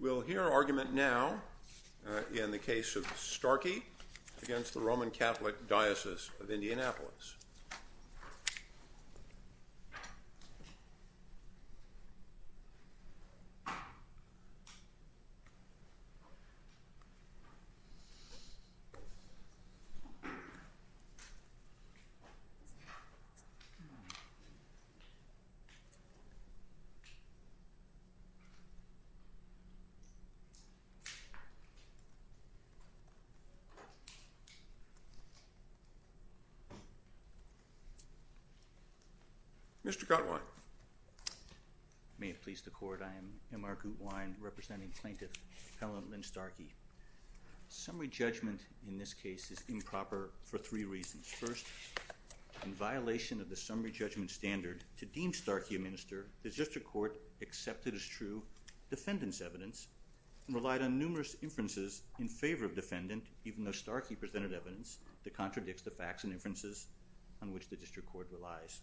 We'll hear argument now in the case of Starkey against the Roman Catholic Diocese of Indianapolis. Mr. Gutwein. May it please the court, I am M.R. Gutwein, representing plaintiff, Appellant Lynn Starkey. Summary judgment in this case is improper for three reasons. First, in violation of the summary judgment standard to deem Starkey a minister, the district court accepted as true defendant's evidence and relied on numerous inferences in favor of defendant, even though Starkey presented evidence that contradicts the facts and inferences on which the district court relies.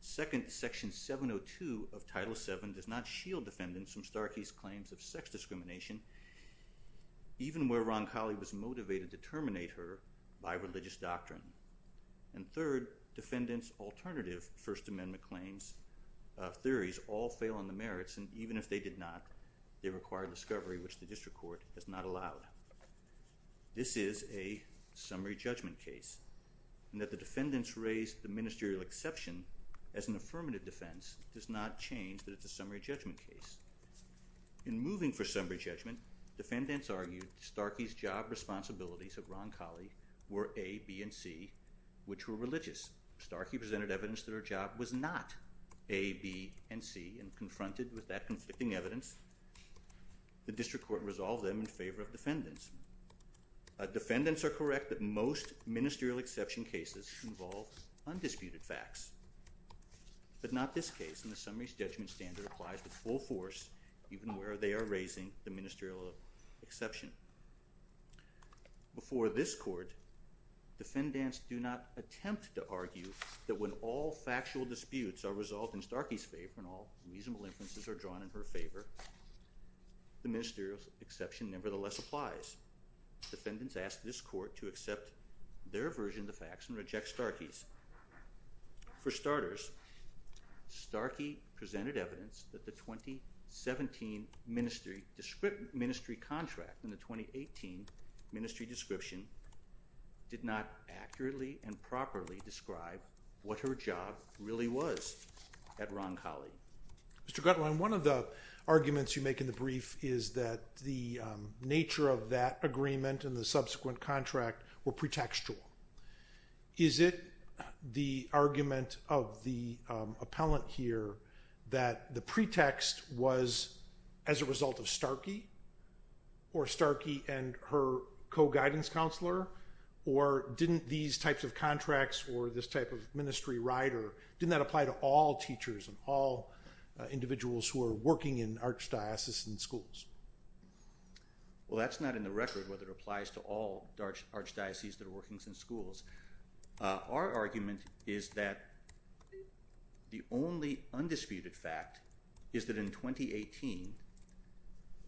Second, Section 702 of Title VII does not shield defendants from Starkey's claims of sex discrimination, even where Ron Colley was motivated to terminate her by religious doctrine. And third, defendants' alternative First Amendment claims, theories, all fail on the merits, and even if they did not, they require discovery, which the district court has not allowed. This is a summary judgment case, and that the defendants raise the ministerial exception as an affirmative defense does not change that it's a summary judgment case. In moving for summary judgment, defendants argued Starkey's job responsibilities of Ron Colley were A, B, and C, which were religious. Starkey presented evidence that her job was not A, B, and C, and confronted with that conflicting evidence, the district court resolved them in favor of defendants. Defendants are correct that most ministerial exception cases involve undisputed facts, but not this case, and the summary judgment standard applies with full force even where they are raising the ministerial exception. Before this court, defendants do not attempt to argue that when all factual disputes are resolved in Starkey's favor and all reasonable inferences are drawn in her favor, the ministerial exception nevertheless applies. Defendants ask this court to accept their version of the facts and reject Starkey's. For starters, Starkey presented evidence that the 2017 ministry contract and the 2018 ministry description did not accurately and properly describe what her job really was at Ron Colley. Mr. Gretelman, one of the arguments you make in the brief is that the nature of that agreement and the subsequent contract were pretextual. Is it the argument of the appellant here that the pretext was as a result of Starkey, or Starkey and her co-guidance counselor, or didn't these types of contracts or this type of ministry rider, didn't that apply to all teachers and all individuals who are working in archdiocesan schools? Well, that's not in the record whether it applies to all archdiocese that are working in schools. Our argument is that the only undisputed fact is that in 2018,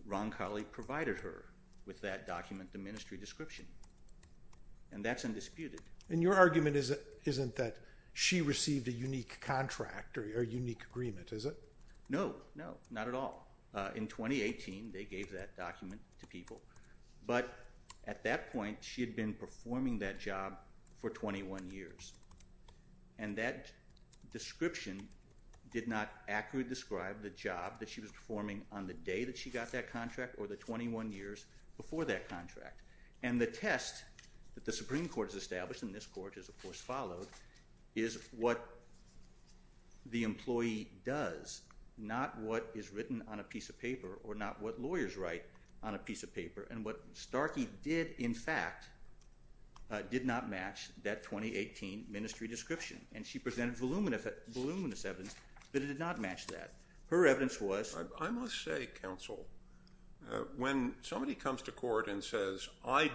Ron Colley provided her with that document, the ministry description, and that's undisputed. And your argument isn't that she received a unique contract or unique agreement, is it? No, no, not at all. In 2018, they gave that document to people. But at that point, she had been performing that job for 21 years, and that description did not accurately describe the job that she was performing on the day that she got that contract or the 21 years before that contract. And the test that the Supreme Court has established, and this court has, of course, followed, is what the employee does, not what is written on a piece of paper or not what lawyers write on a piece of paper. And what Starkey did, in fact, did not match that 2018 ministry description. And she presented voluminous evidence that it did not match that. Her evidence was – I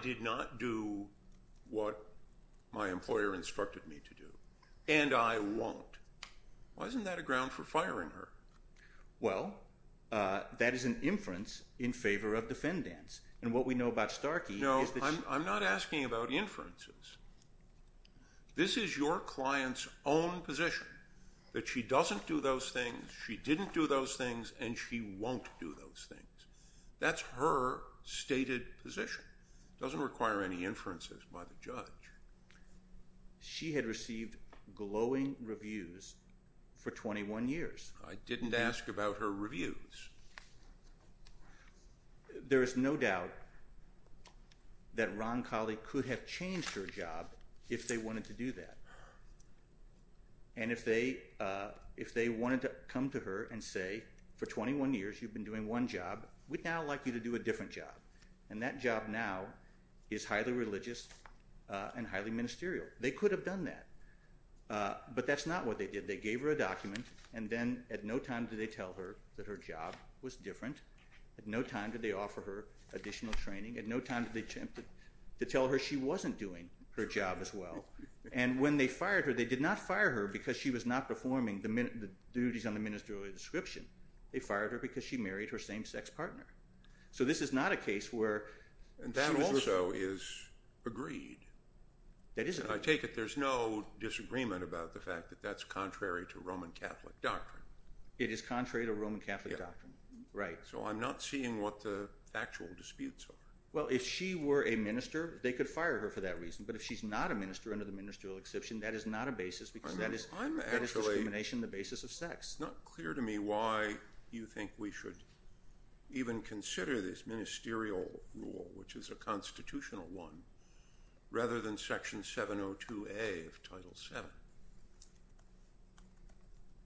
did not do what my employer instructed me to do, and I won't. Why isn't that a ground for firing her? Well, that is an inference in favor of defendants. And what we know about Starkey is that she – No, I'm not asking about inferences. This is your client's own position, that she doesn't do those things, she didn't do those things, and she won't do those things. That's her stated position. It doesn't require any inferences by the judge. She had received glowing reviews for 21 years. I didn't ask about her reviews. There is no doubt that Ron Colley could have changed her job if they wanted to do that. And if they wanted to come to her and say, for 21 years you've been doing one job, we'd now like you to do a different job. And that job now is highly religious and highly ministerial. They could have done that. But that's not what they did. They gave her a document, and then at no time did they tell her that her job was different. At no time did they offer her additional training. At no time did they attempt to tell her she wasn't doing her job as well. And when they fired her, they did not fire her because she was not performing the duties on the ministerial description. They fired her because she married her same-sex partner. So this is not a case where she was— That also is agreed. That is agreed. I take it there's no disagreement about the fact that that's contrary to Roman Catholic doctrine. It is contrary to Roman Catholic doctrine, right. So I'm not seeing what the actual disputes are. Well, if she were a minister, they could fire her for that reason. But if she's not a minister under the ministerial exception, that is not a basis because that is discrimination, the basis of sex. It's not clear to me why you think we should even consider this ministerial rule, which is a constitutional one, rather than Section 702A of Title VII.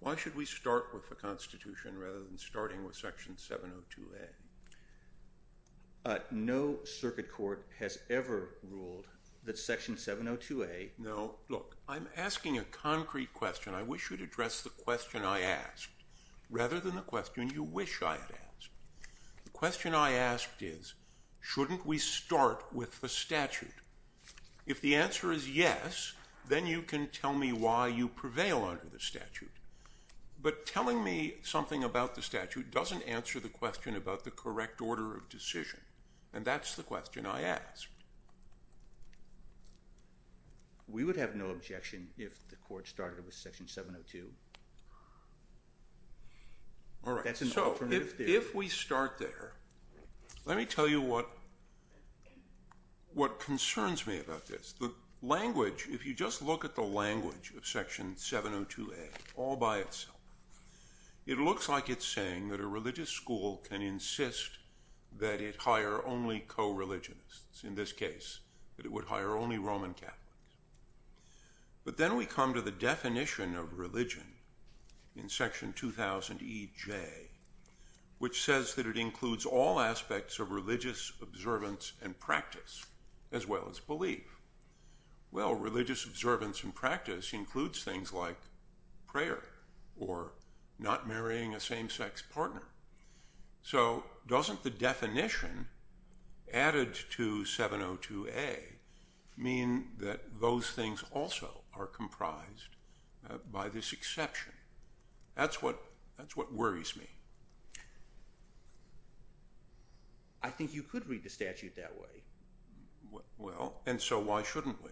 Why should we start with the Constitution rather than starting with Section 702A? No circuit court has ever ruled that Section 702A— No. Look, I'm asking a concrete question. I wish you'd address the question I asked rather than the question you wish I had asked. The question I asked is, shouldn't we start with the statute? If the answer is yes, then you can tell me why you prevail under the statute. But telling me something about the statute doesn't answer the question about the correct order of decision, and that's the question I ask. We would have no objection if the court started with Section 702. All right, so if we start there, let me tell you what concerns me about this. If you just look at the language of Section 702A all by itself, it looks like it's saying that a religious school can insist that it hire only co-religionists. In this case, that it would hire only Roman Catholics. But then we come to the definition of religion in Section 2000EJ, which says that it includes all aspects of religious observance and practice, as well as belief. Well, religious observance and practice includes things like prayer or not marrying a same-sex partner. So doesn't the definition added to 702A mean that those things also are comprised by this exception? That's what worries me. I think you could read the statute that way. Well, and so why shouldn't we?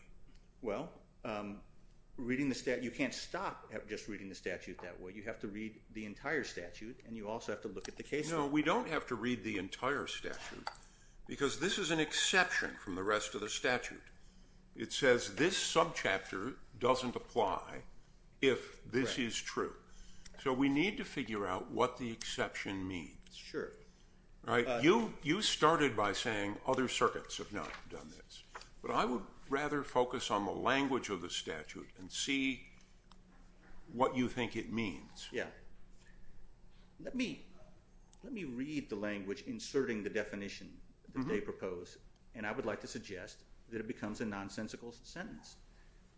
Well, you can't stop just reading the statute that way. You have to read the entire statute, and you also have to look at the case law. No, we don't have to read the entire statute because this is an exception from the rest of the statute. It says this subchapter doesn't apply if this is true. So we need to figure out what the exception means. Sure. You started by saying other circuits have not done this. But I would rather focus on the language of the statute and see what you think it means. Yeah. Let me read the language inserting the definition that they propose, and I would like to suggest that it becomes a nonsensical sentence.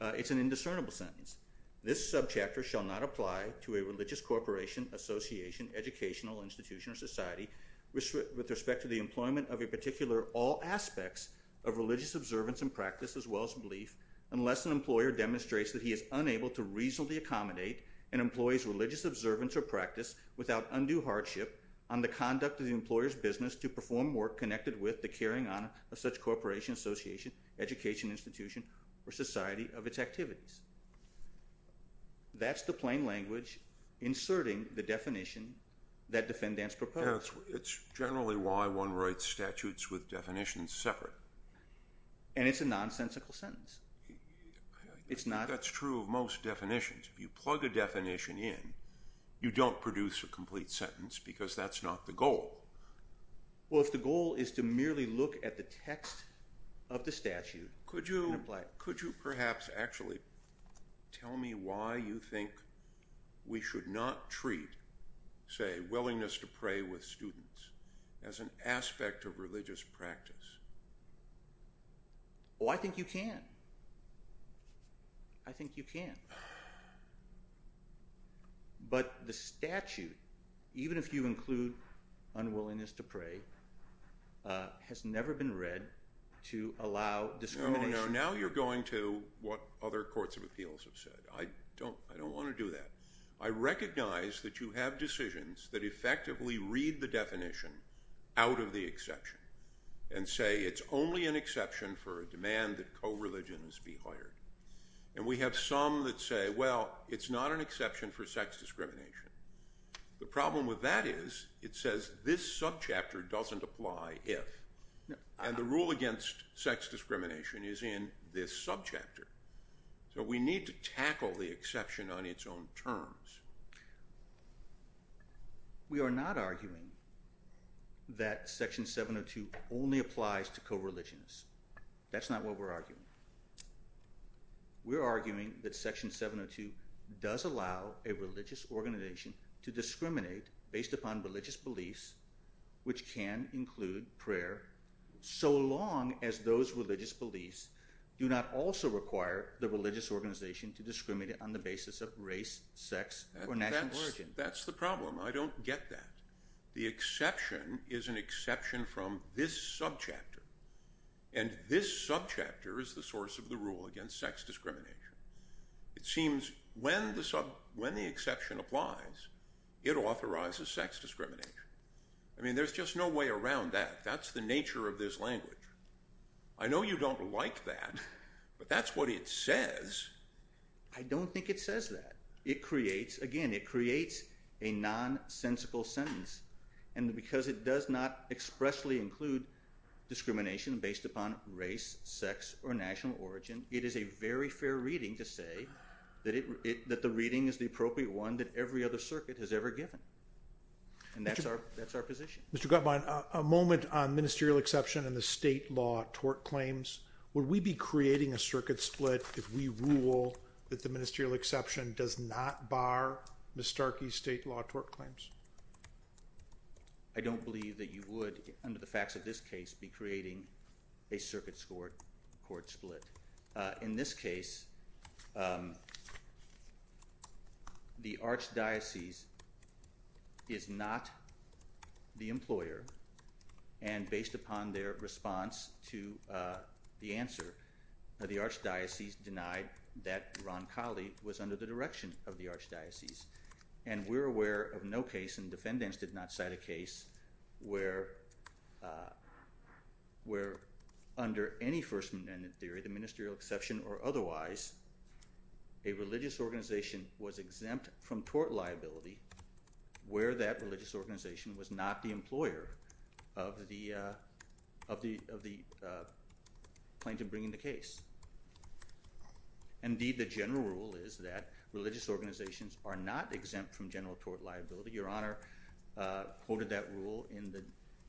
It's an indiscernible sentence. This subchapter shall not apply to a religious corporation, association, educational institution, or society with respect to the employment of a particular all aspects of religious observance and practice as well as belief unless an employer demonstrates that he is unable to reasonably accommodate an employee's religious observance or practice without undue hardship on the conduct of the employer's business to perform work connected with the carrying on of such corporation, association, education institution, or society of its activities. That's the plain language inserting the definition that defendants propose. It's generally why one writes statutes with definitions separate. And it's a nonsensical sentence. That's true of most definitions. If you plug a definition in, you don't produce a complete sentence because that's not the goal. Well, if the goal is to merely look at the text of the statute and apply it. Could you perhaps actually tell me why you think we should not treat, say, willingness to pray with students as an aspect of religious practice? Oh, I think you can. I think you can. But the statute, even if you include unwillingness to pray, has never been read to allow discrimination. Now you're going to what other courts of appeals have said. I don't want to do that. I recognize that you have decisions that effectively read the definition out of the exception and say it's only an exception for a demand that co-religions be hired. And we have some that say, well, it's not an exception for sex discrimination. The problem with that is it says this subchapter doesn't apply if. And the rule against sex discrimination is in this subchapter. So we need to tackle the exception on its own terms. We are not arguing that Section 702 only applies to co-religions. That's not what we're arguing. We're arguing that Section 702 does allow a religious organization to discriminate based upon religious beliefs, which can include prayer, so long as those religious beliefs do not also require the religious organization to discriminate on the basis of race, sex, or national origin. That's the problem. I don't get that. The exception is an exception from this subchapter. And this subchapter is the source of the rule against sex discrimination. It seems when the exception applies, it authorizes sex discrimination. I mean, there's just no way around that. That's the nature of this language. I know you don't like that, but that's what it says. I don't think it says that. Again, it creates a nonsensical sentence. And because it does not expressly include discrimination based upon race, sex, or national origin, it is a very fair reading to say that the reading is the appropriate one that every other circuit has ever given. And that's our position. Mr. Gutman, a moment on ministerial exception and the state law tort claims. Would we be creating a circuit split if we rule that the ministerial exception does not bar Ms. Starkey's state law tort claims? I don't believe that you would, under the facts of this case, be creating a circuit court split. In this case, the archdiocese is not the employer. And based upon their response to the answer, the archdiocese denied that Ron Colley was under the direction of the archdiocese. And we're aware of no case, and defendants did not cite a case, where under any first amendment theory, the ministerial exception or otherwise, a religious organization was exempt from tort liability where that religious organization was not the employer of the plaintiff bringing the case. Indeed, the general rule is that religious organizations are not exempt from general tort liability. Your Honor quoted that rule in the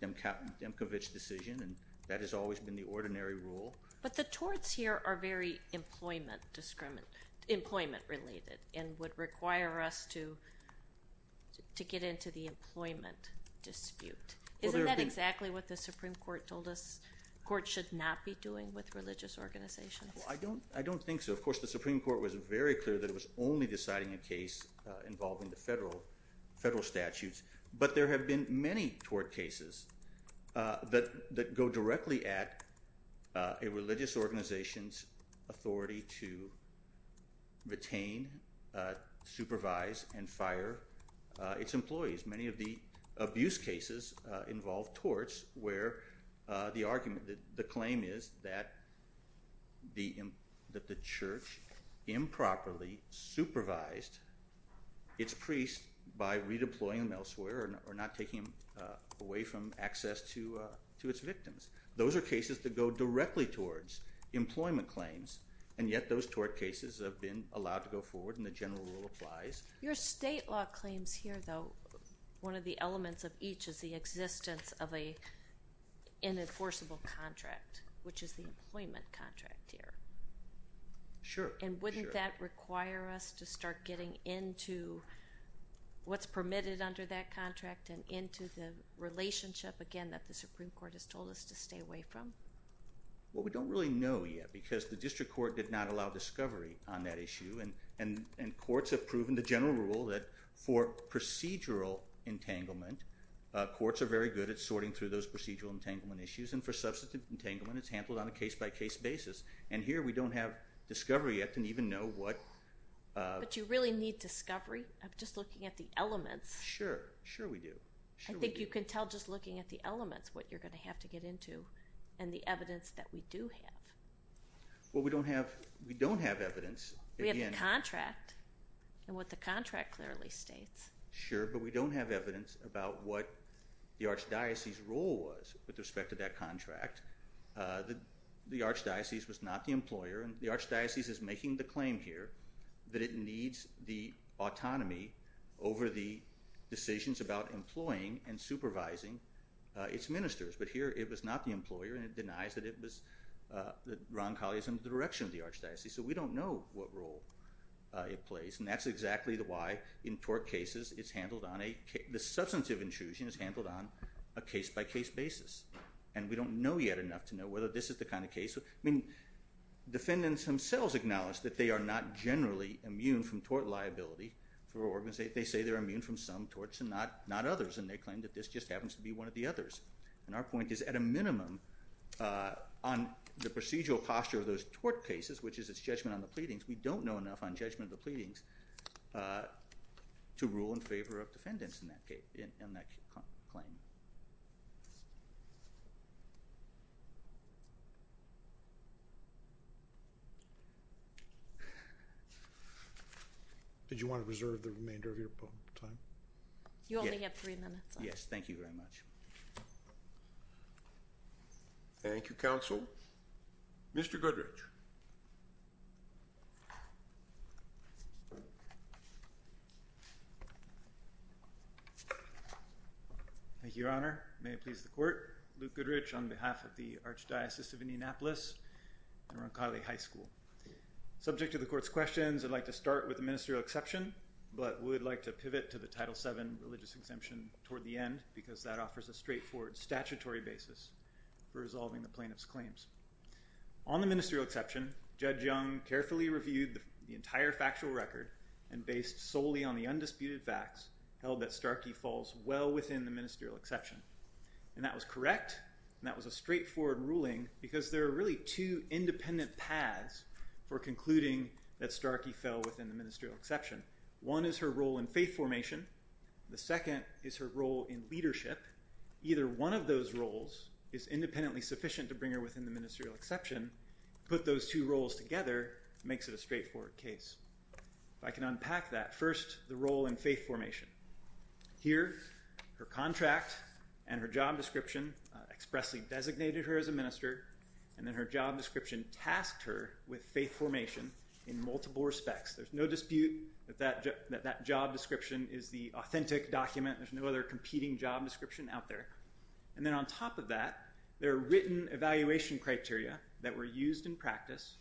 Demkovich decision, and that has always been the ordinary rule. But the torts here are very employment related and would require us to get into the employment dispute. Isn't that exactly what the Supreme Court told us courts should not be doing with religious organizations? I don't think so. Of course, the Supreme Court was very clear that it was only deciding a case involving the federal statutes. But there have been many tort cases that go directly at a religious organization's authority to retain, supervise, and fire its employees. Many of the abuse cases involve torts where the claim is that the church improperly supervised its priest by redeploying them elsewhere or not taking them away from access to its victims. Those are cases that go directly towards employment claims, and yet those tort cases have been allowed to go forward, and the general rule applies. Your state law claims here, though, one of the elements of each is the existence of an enforceable contract, which is the employment contract here. Sure. And wouldn't that require us to start getting into what's permitted under that contract and into the relationship, again, that the Supreme Court has told us to stay away from? Well, we don't really know yet because the district court did not allow discovery on that issue, and courts have proven the general rule that for procedural entanglement, courts are very good at sorting through those procedural entanglement issues, and for substantive entanglement, it's handled on a case-by-case basis. And here we don't have discovery yet and even know what— But you really need discovery of just looking at the elements. Sure. Sure we do. I think you can tell just looking at the elements what you're going to have to get into and the evidence that we do have. Well, we don't have evidence. We have the contract and what the contract clearly states. Sure, but we don't have evidence about what the archdiocese's role was with respect to that contract. The archdiocese was not the employer, and the archdiocese is making the claim here that it needs the autonomy over the decisions about employing and supervising its ministers. But here it was not the employer, and it denies that it was—that Ron Colley is in the direction of the archdiocese. So we don't know what role it plays, and that's exactly why in tort cases, it's handled on a—the substantive intrusion is handled on a case-by-case basis. And we don't know yet enough to know whether this is the kind of case—I mean, defendants themselves acknowledge that they are not generally immune from tort liability. They say they're immune from some torts and not others, and they claim that this just happens to be one of the others. And our point is, at a minimum, on the procedural posture of those tort cases, which is its judgment on the pleadings, to rule in favor of defendants in that case—in that claim. Did you want to reserve the remainder of your time? You only have three minutes left. Yes, thank you very much. Thank you, counsel. Mr. Goodrich. Thank you, Your Honor. May it please the Court. Luke Goodrich on behalf of the Archdiocese of Indianapolis and Ron Colley High School. Subject to the Court's questions, I'd like to start with the ministerial exception, but would like to pivot to the Title VII religious exemption toward the end, because that offers a straightforward statutory basis for resolving the plaintiff's claims. On the ministerial exception, Judge Young carefully reviewed the entire factual record and, based solely on the undisputed facts, held that Starkey falls well within the ministerial exception. And that was correct, and that was a straightforward ruling, because there are really two independent paths for concluding that Starkey fell within the ministerial exception. One is her role in faith formation. The second is her role in leadership. Either one of those roles is independently sufficient to bring her within the ministerial exception. To put those two roles together makes it a straightforward case. If I can unpack that, first, the role in faith formation. Here, her contract and her job description expressly designated her as a minister, and then her job description tasked her with faith formation in multiple respects. There's no dispute that that job description is the authentic document. There's no other competing job description out there. And then, on top of that, there are written evaluation criteria that were used in practice,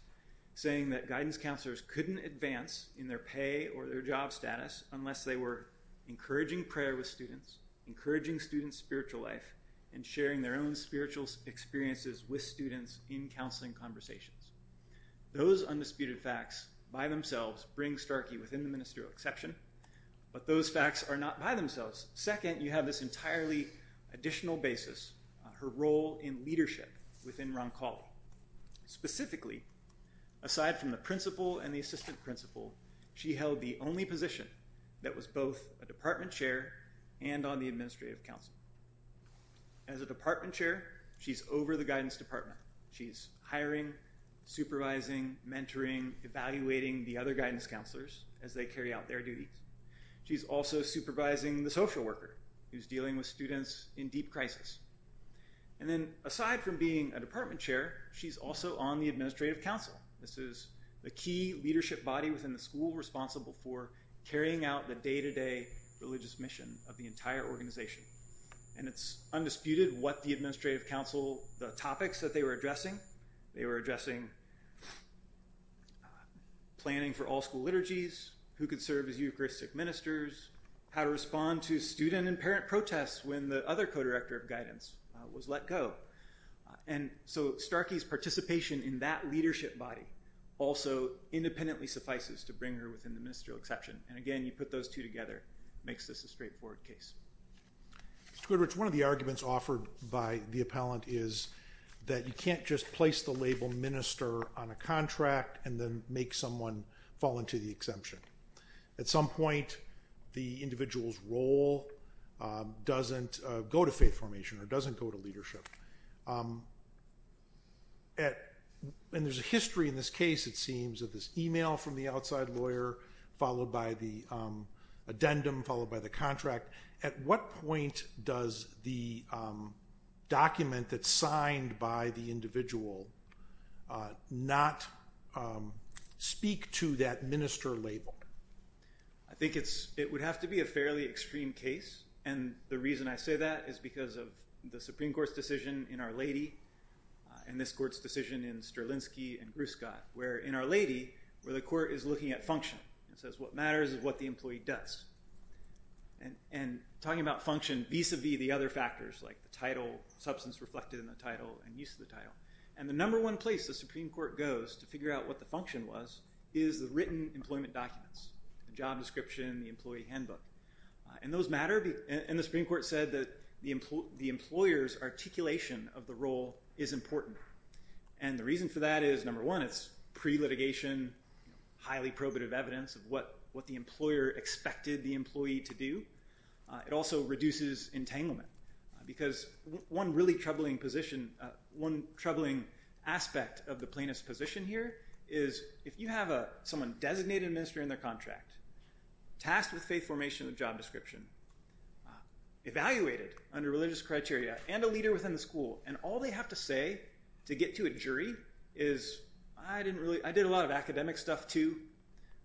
saying that guidance counselors couldn't advance in their pay or their job status unless they were encouraging prayer with students, encouraging students' spiritual life, and sharing their own spiritual experiences with students in counseling conversations. Those undisputed facts by themselves bring Starkey within the ministerial exception, but those facts are not by themselves. Second, you have this entirely additional basis, her role in leadership within Roncalli. Specifically, aside from the principal and the assistant principal, she held the only position that was both a department chair and on the administrative council. As a department chair, she's over the guidance department. She's hiring, supervising, mentoring, evaluating the other guidance counselors as they carry out their duties. She's also supervising the social worker who's dealing with students in deep crisis. And then, aside from being a department chair, she's also on the administrative council. This is the key leadership body within the school responsible for carrying out the day-to-day religious mission of the entire organization. And it's undisputed what the administrative council, the topics that they were addressing, they were addressing planning for all school liturgies, who could serve as Eucharistic ministers, how to respond to student and parent protests when the other co-director of guidance was let go. And so Starkey's participation in that leadership body also independently suffices to bring her within the ministerial exception. And again, you put those two together, makes this a straightforward case. Mr. Goodrich, one of the arguments offered by the appellant is that you can't just place the label minister on a contract and then make someone fall into the exemption. At some point, the individual's role doesn't go to faith formation or doesn't go to leadership. And there's a history in this case, it seems, of this email from the outside lawyer, followed by the addendum, followed by the contract. At what point does the document that's signed by the individual not speak to that minister label? I think it would have to be a fairly extreme case. And the reason I say that is because of the Supreme Court's decision in Our Lady and this court's decision in Sterlinski and Gruskod, where in Our Lady, where the court is looking at function, it says what matters is what the employee does. And talking about function vis-a-vis the other factors like the title, substance reflected in the title and use of the title. And the number one place the Supreme Court goes to figure out what the function was is the written employment documents, the job description, the employee handbook. And those matter, and the Supreme Court said that the employer's articulation of the role is important. And the reason for that is, number one, it's pre-litigation, highly probative evidence of what the employer expected the employee to do. It also reduces entanglement. Because one really troubling position, one troubling aspect of the plaintiff's position here is if you have someone designated minister in their contract, tasked with faith formation and job description, evaluated under religious criteria, and a leader within the school, and all they have to say to get to a jury is, I didn't really, I did a lot of academic stuff too,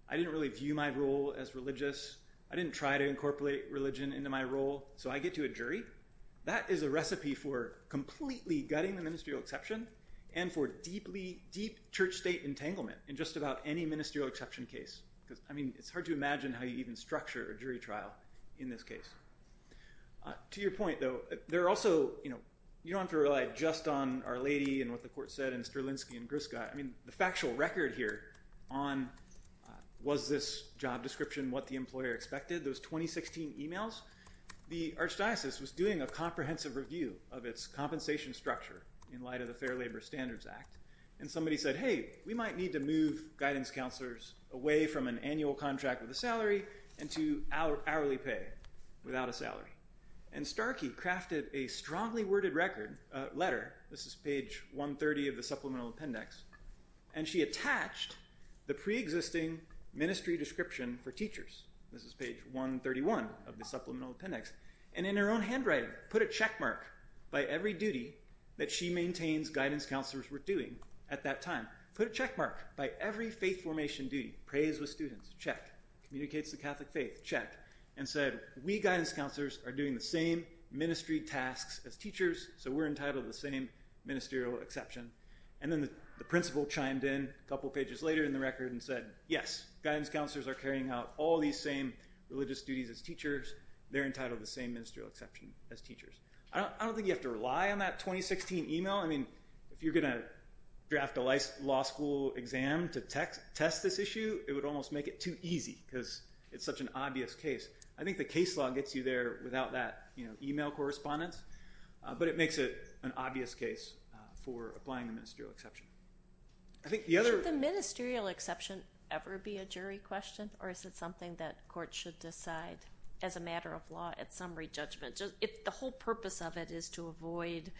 I didn't really view my role as religious, I didn't try to incorporate religion into my role, so I get to a jury. That is a recipe for completely gutting the ministerial exception and for deeply, deep church-state entanglement in just about any ministerial exception case. Because, I mean, it's hard to imagine how you even structure a jury trial in this case. To your point, though, there are also, you know, you don't have to rely just on Our Lady and what the court said and Strelinsky and Griska. I mean, the factual record here on was this job description what the employer expected, those 2016 emails, the Archdiocese was doing a comprehensive review of its compensation structure in light of the Fair Labor Standards Act, and somebody said, hey, we might need to move guidance counselors away from an annual contract with a salary and to hourly pay without a salary. And Starkey crafted a strongly worded record, letter, this is page 130 of the Supplemental Appendix, and she attached the pre-existing ministry description for teachers, this is page 131 of the Supplemental Appendix, and in her own handwriting put a checkmark by every duty that she maintains guidance counselors were doing at that time, put a checkmark by every faith formation duty, praise with students, check, communicates the Catholic faith, check, and said, we guidance counselors are doing the same ministry tasks as teachers, so we're entitled to the same ministerial exception. And then the principal chimed in a couple pages later in the record and said, yes, guidance counselors are carrying out all these same religious duties as teachers, they're entitled to the same ministerial exception as teachers. I don't think you have to rely on that 2016 email, I mean, if you're going to draft a law school exam to test this issue, it would almost make it too easy, because it's such an obvious case. I think the case law gets you there without that email correspondence, but it makes it an obvious case for applying the ministerial exception. I think the other... Should the ministerial exception ever be a jury question, or is it something that courts should decide as a matter of law at summary judgment? The whole purpose of it is to avoid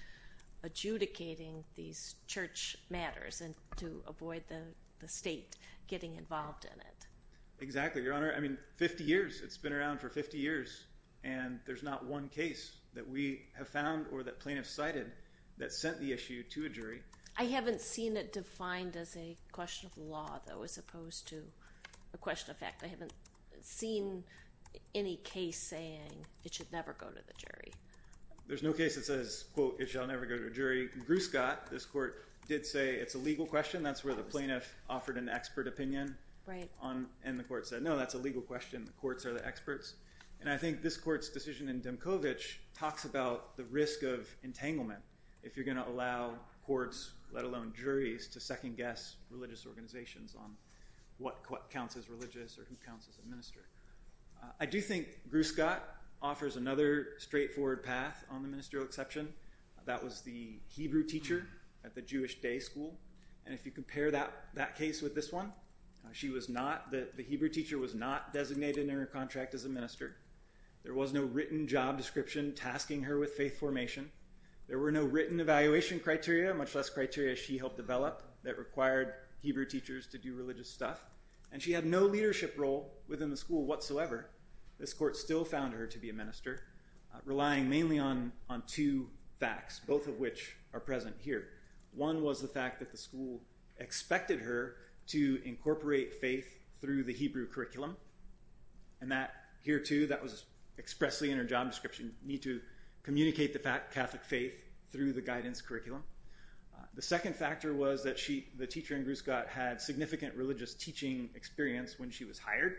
adjudicating these church matters and to avoid the state getting involved in it. Exactly, Your Honor. I mean, 50 years, it's been around for 50 years, and there's not one case that we have found or that plaintiffs cited that sent the issue to a jury. I haven't seen it defined as a question of law, though, as opposed to a question of fact. I haven't seen any case saying it should never go to the jury. There's no case that says, quote, it shall never go to a jury. Gruscott, this court, did say it's a legal question. That's where the plaintiff offered an expert opinion. Right. And the court said, no, that's a legal question. The courts are the experts. And I think this court's decision in Demkovich talks about the risk of entanglement if you're going to allow courts, let alone juries, to second guess religious organizations on what counts as religious or who counts as a minister. I do think Gruscott offers another straightforward path on the ministerial exception. That was the Hebrew teacher at the Jewish day school. And if you compare that case with this one, the Hebrew teacher was not designated in her contract as a minister. There was no written job description tasking her with faith formation. There were no written evaluation criteria, much less criteria she helped develop, that required Hebrew teachers to do religious stuff. And she had no leadership role within the school whatsoever. This court still found her to be a minister, relying mainly on two facts, both of which are present here. One was the fact that the school expected her to incorporate faith through the Hebrew curriculum. And that here, too, that was expressly in her job description, me to communicate the Catholic faith through the guidance curriculum. The second factor was that she, the teacher in Gruscott, had significant religious teaching experience when she was hired.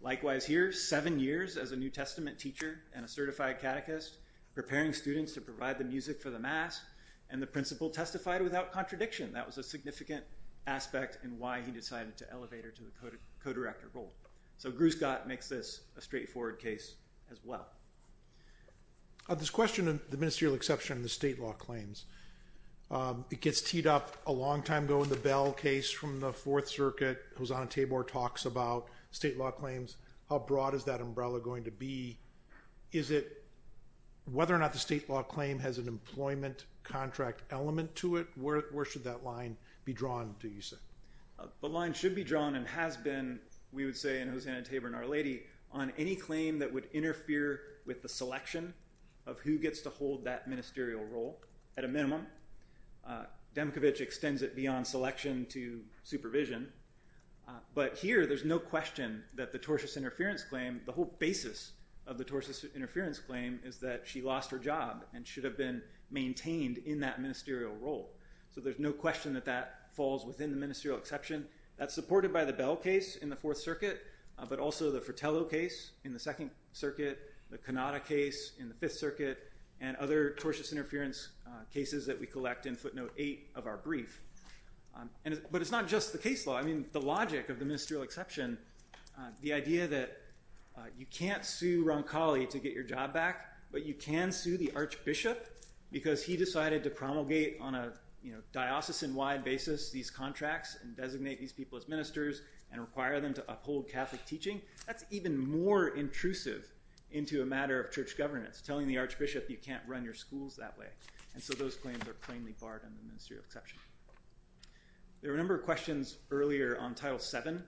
Likewise here, seven years as a New Testament teacher and a certified catechist, preparing students to provide the music for the mass. And the principal testified without contradiction. That was a significant aspect in why he decided to elevate her to the co-director role. So Gruscott makes this a straightforward case as well. This question of the ministerial exception in the state law claims. It gets teed up a long time ago in the Bell case from the Fourth Circuit. Hosanna Tabor talks about state law claims. How broad is that umbrella going to be? Is it whether or not the state law claim has an employment contract element to it? Where should that line be drawn, do you say? The line should be drawn and has been, we would say in Hosanna Tabor and Our Lady, on any claim that would interfere with the selection of who gets to hold that ministerial role at a minimum. Demkiewicz extends it beyond selection to supervision. But here there's no question that the tortious interference claim, the whole basis of the tortious interference claim, is that she lost her job and should have been maintained in that ministerial role. So there's no question that that falls within the ministerial exception. That's supported by the Bell case in the Fourth Circuit, but also the Fratello case in the Second Circuit, the Cannata case in the Fifth Circuit, and other tortious interference cases that we collect in footnote eight of our brief. But it's not just the case law. I mean, the logic of the ministerial exception, the idea that you can't sue Roncalli to get your job back, but you can sue the archbishop because he decided to promulgate on a diocesan-wide basis these contracts and designate these people as ministers and require them to uphold Catholic teaching. That's even more intrusive into a matter of church governance, telling the archbishop you can't run your schools that way. And so those claims are plainly barred in the ministerial exception. There were a number of questions earlier on Title VII,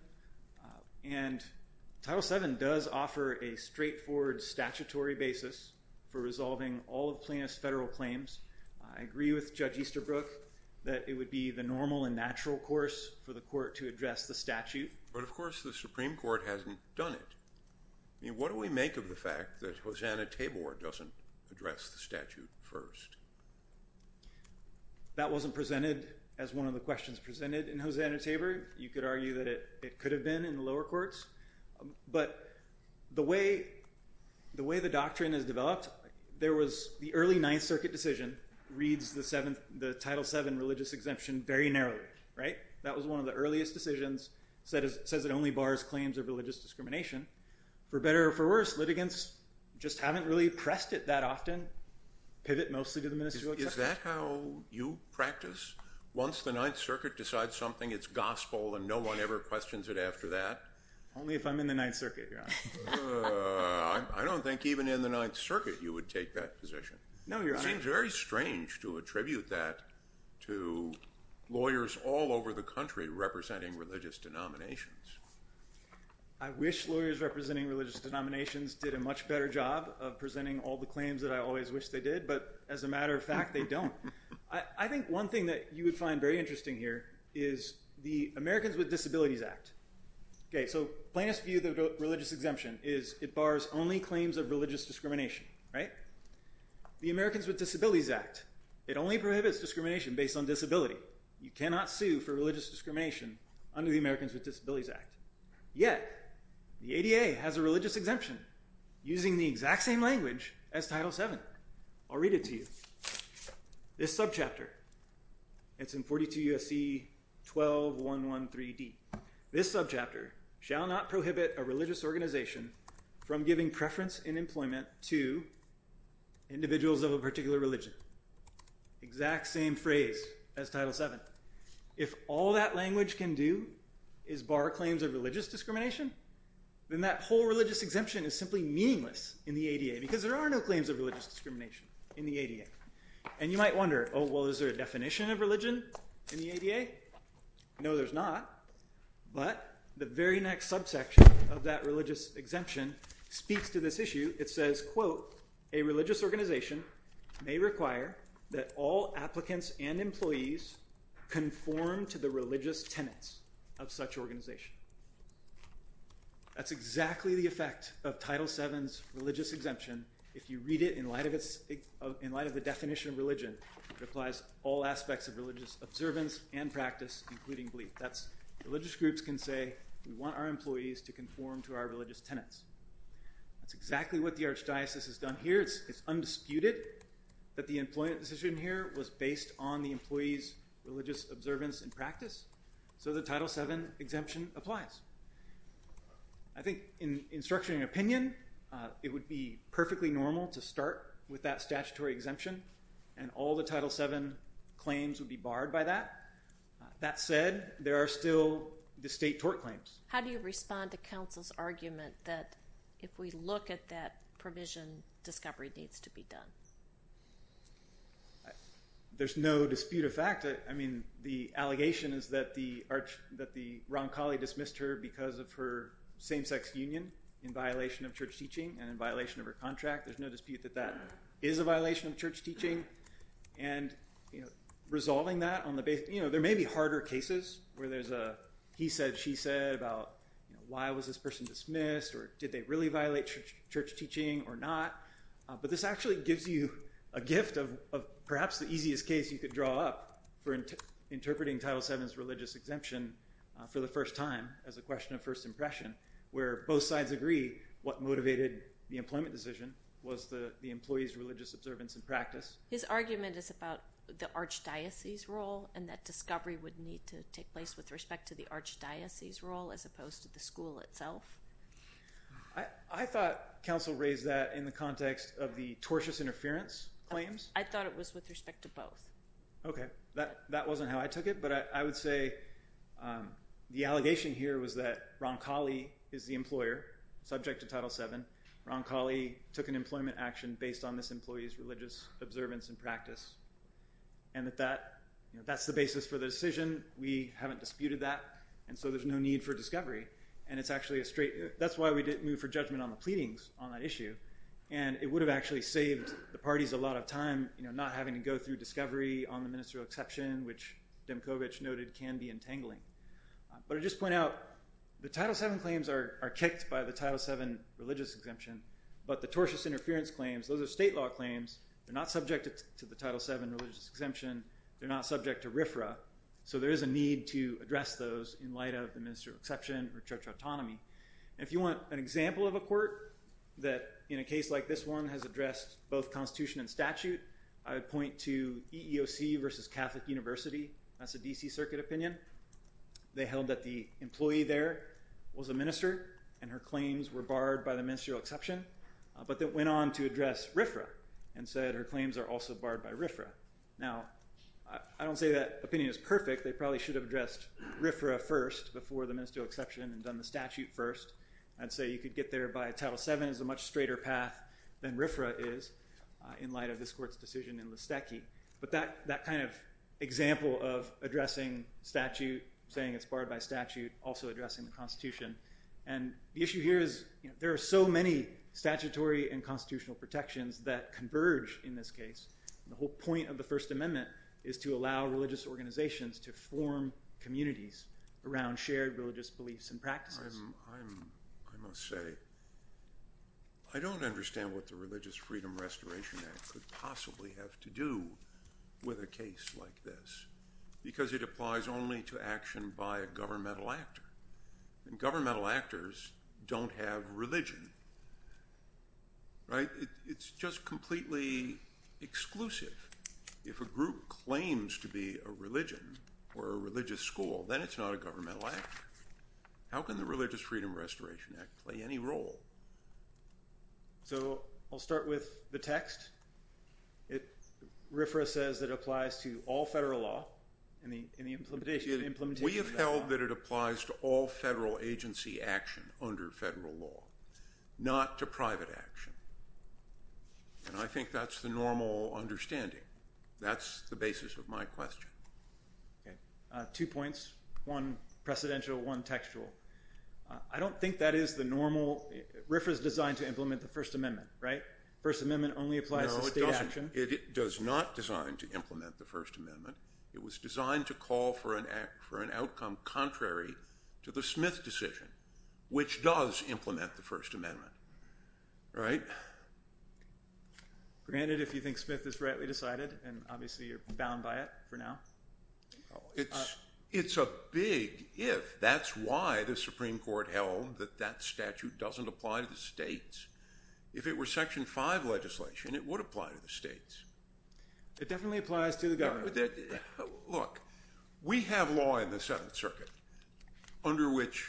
and Title VII does offer a straightforward statutory basis for resolving all of Plaintiff's federal claims. I agree with Judge Easterbrook that it would be the normal and natural course for the court to address the statute. But, of course, the Supreme Court hasn't done it. I mean, what do we make of the fact that Hosanna Tabor doesn't address the statute first? That wasn't presented as one of the questions presented in Hosanna Tabor. You could argue that it could have been in the lower courts. But the way the doctrine is developed, there was the early Ninth Circuit decision reads the Title VII religious exemption very narrowly, right? That was one of the earliest decisions. It says it only bars claims of religious discrimination. For better or for worse, litigants just haven't really pressed it that often, pivot mostly to the ministerial exception. Is that how you practice? Once the Ninth Circuit decides something, it's gospel and no one ever questions it after that? Only if I'm in the Ninth Circuit, Your Honor. I don't think even in the Ninth Circuit you would take that position. No, Your Honor. It seems very strange to attribute that to lawyers all over the country representing religious denominations. I wish lawyers representing religious denominations did a much better job of presenting all the claims that I always wish they did. But as a matter of fact, they don't. I think one thing that you would find very interesting here is the Americans with Disabilities Act. Okay, so plainest view of the religious exemption is it bars only claims of religious discrimination, right? The Americans with Disabilities Act, it only prohibits discrimination based on disability. So, you cannot sue for religious discrimination under the Americans with Disabilities Act. Yet, the ADA has a religious exemption using the exact same language as Title VII. I'll read it to you. This subchapter. It's in 42 U.S.C. 12113D. This subchapter shall not prohibit a religious organization from giving preference in employment to individuals of a particular religion. Exact same phrase as Title VII. If all that language can do is bar claims of religious discrimination, then that whole religious exemption is simply meaningless in the ADA because there are no claims of religious discrimination in the ADA. And you might wonder, oh, well, is there a definition of religion in the ADA? No, there's not. But the very next subsection of that religious exemption speaks to this issue. It says, quote, a religious organization may require that all applicants and employees conform to the religious tenets of such organization. That's exactly the effect of Title VII's religious exemption. If you read it in light of the definition of religion, it applies all aspects of religious observance and practice, including belief. Religious groups can say we want our employees to conform to our religious tenets. That's exactly what the archdiocese has done here. It's undisputed that the employment decision here was based on the employee's religious observance and practice. So the Title VII exemption applies. I think in structuring an opinion, it would be perfectly normal to start with that statutory exemption, and all the Title VII claims would be barred by that. That said, there are still the state tort claims. How do you respond to counsel's argument that if we look at that provision, discovery needs to be done? There's no dispute of fact. I mean, the allegation is that the wrong colleague dismissed her because of her same-sex union in violation of church teaching and in violation of her contract. There's no dispute that that is a violation of church teaching. There may be harder cases where there's a he said, she said about why was this person dismissed, or did they really violate church teaching or not? But this actually gives you a gift of perhaps the easiest case you could draw up for interpreting Title VII's religious exemption for the first time as a question of first impression, where both sides agree what motivated the employment decision was the employee's religious observance and practice. His argument is about the archdiocese role and that discovery would need to take place with respect to the archdiocese role as opposed to the school itself. I thought counsel raised that in the context of the tortious interference claims. I thought it was with respect to both. Okay, that wasn't how I took it, but I would say the allegation here was that Ron Colley is the employer subject to Title VII. Ron Colley took an employment action based on this employee's religious observance and practice, and that that's the basis for the decision. We haven't disputed that, and so there's no need for discovery. And it's actually a straight – that's why we didn't move for judgment on the pleadings on that issue. And it would have actually saved the parties a lot of time, you know, not having to go through discovery on the ministerial exception, which Demkovich noted can be entangling. But I just point out the Title VII claims are kicked by the Title VII religious exemption, but the tortious interference claims, those are state law claims. They're not subject to the Title VII religious exemption. They're not subject to RFRA, so there is a need to address those in light of the ministerial exception or church autonomy. And if you want an example of a court that in a case like this one has addressed both constitution and statute, I would point to EEOC versus Catholic University. That's a D.C. Circuit opinion. They held that the employee there was a minister, and her claims were barred by the ministerial exception, but then went on to address RFRA and said her claims are also barred by RFRA. Now, I don't say that opinion is perfect. They probably should have addressed RFRA first before the ministerial exception and done the statute first. I'd say you could get there by Title VII is a much straighter path than RFRA is in light of this court's decision in Listecki. But that kind of example of addressing statute, saying it's barred by statute, also addressing the Constitution. And the issue here is there are so many statutory and constitutional protections that converge in this case. The whole point of the First Amendment is to allow religious organizations to form communities around shared religious beliefs and practices. I must say I don't understand what the Religious Freedom Restoration Act could possibly have to do with a case like this because it applies only to action by a governmental actor. And governmental actors don't have religion. Right? It's just completely exclusive. If a group claims to be a religion or a religious school, then it's not a governmental actor. How can the Religious Freedom Restoration Act play any role? So I'll start with the text. RFRA says it applies to all federal law. We have held that it applies to all federal agency action under federal law, not to private action. And I think that's the normal understanding. That's the basis of my question. Two points, one precedential, one textual. I don't think that is the normal – RFRA is designed to implement the First Amendment, right? First Amendment only applies to state action. No, it does not design to implement the First Amendment. It was designed to call for an outcome contrary to the Smith decision, which does implement the First Amendment. Right? Granted, if you think Smith is rightly decided, and obviously you're bound by it for now. It's a big if. That's why the Supreme Court held that that statute doesn't apply to the states. If it were Section 5 legislation, it would apply to the states. It definitely applies to the government. Look, we have law in the Seventh Circuit under which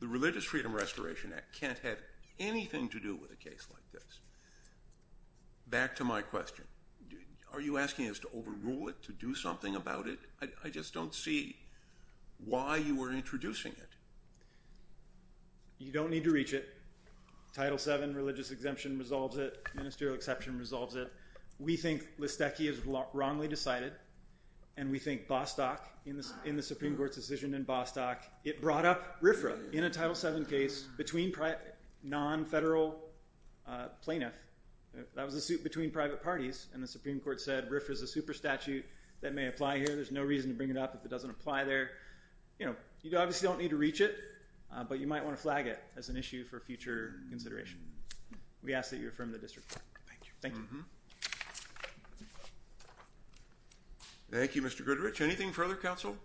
the Religious Freedom Restoration Act can't have anything to do with a case like this. Back to my question. Are you asking us to overrule it, to do something about it? I just don't see why you are introducing it. You don't need to reach it. Title VII religious exemption resolves it. Ministerial exception resolves it. We think Listecki is wrongly decided. And we think Bostock, in the Supreme Court's decision in Bostock, it brought up RFRA in a Title VII case between non-federal plaintiffs. That was a suit between private parties, and the Supreme Court said RFRA is a super statute that may apply here. There's no reason to bring it up if it doesn't apply there. You know, you obviously don't need to reach it, but you might want to flag it as an issue for future consideration. We ask that you affirm the district court. Thank you. Thank you, Mr. Goodrich. Anything further, counsel?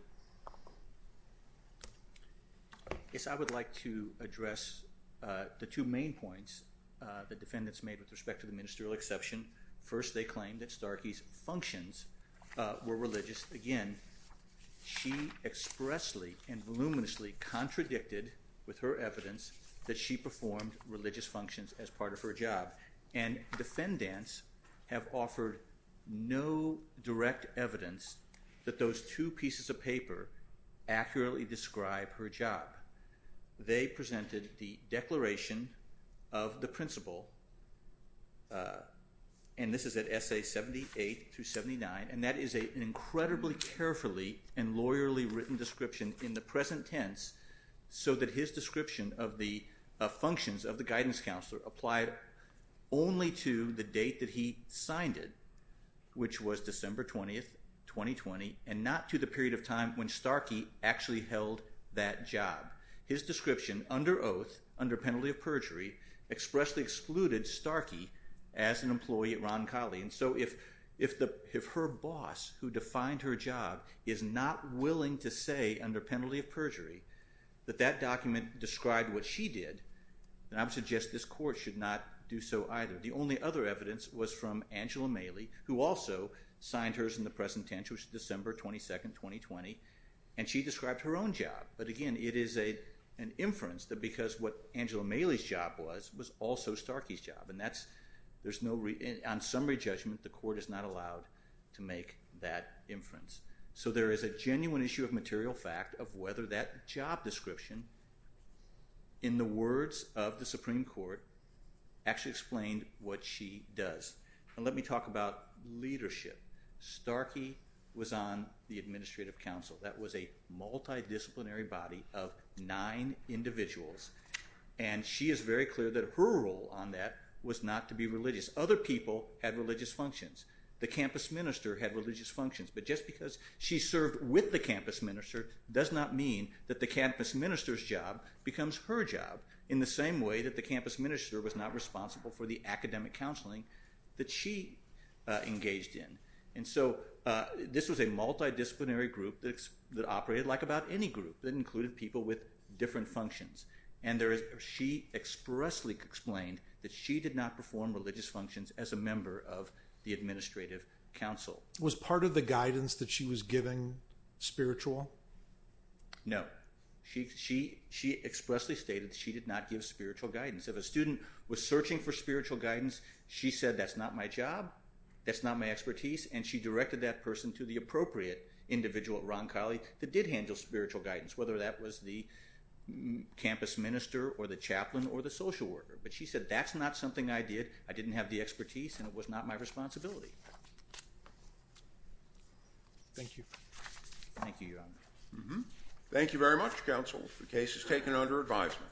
Yes, I would like to address the two main points the defendants made with respect to the ministerial exception. First, they claimed that Starkey's functions were religious. Again, she expressly and voluminously contradicted with her evidence that she performed religious functions as part of her job. And defendants have offered no direct evidence that those two pieces of paper accurately describe her job. They presented the declaration of the principle, and this is at Essays 78 through 79, and that is an incredibly carefully and lawyerly written description in the present tense so that his description of the functions of the guidance counselor only to the date that he signed it, which was December 20, 2020, and not to the period of time when Starkey actually held that job. His description under oath, under penalty of perjury, expressly excluded Starkey as an employee at Ron Colley. And so if her boss, who defined her job, is not willing to say under penalty of perjury that that document described what she did, then I would suggest this court should not do so either. The only other evidence was from Angela Mailey, who also signed hers in the present tense, which was December 22, 2020, and she described her own job. But again, it is an inference that because what Angela Mailey's job was was also Starkey's job, and on summary judgment, the court is not allowed to make that inference. So there is a genuine issue of material fact of whether that job description, in the words of the Supreme Court, actually explained what she does. And let me talk about leadership. Starkey was on the Administrative Council. That was a multidisciplinary body of nine individuals, and she is very clear that her role on that was not to be religious. Other people had religious functions. The campus minister had religious functions. But just because she served with the campus minister does not mean that the campus minister's job becomes her job, in the same way that the campus minister was not responsible for the academic counseling that she engaged in. And so this was a multidisciplinary group that operated like about any group that included people with different functions. She expressly explained that she did not perform religious functions as a member of the Administrative Council. Was part of the guidance that she was giving spiritual? No. She expressly stated that she did not give spiritual guidance. If a student was searching for spiritual guidance, she said, that's not my job, that's not my expertise, and she directed that person to the appropriate individual, Ron Colley, that did handle spiritual guidance, whether that was the campus minister or the chaplain or the social worker. But she said, that's not something I did. I didn't have the expertise, and it was not my responsibility. Thank you. Thank you, Your Honor. Thank you very much, counsel, for cases taken under advisement.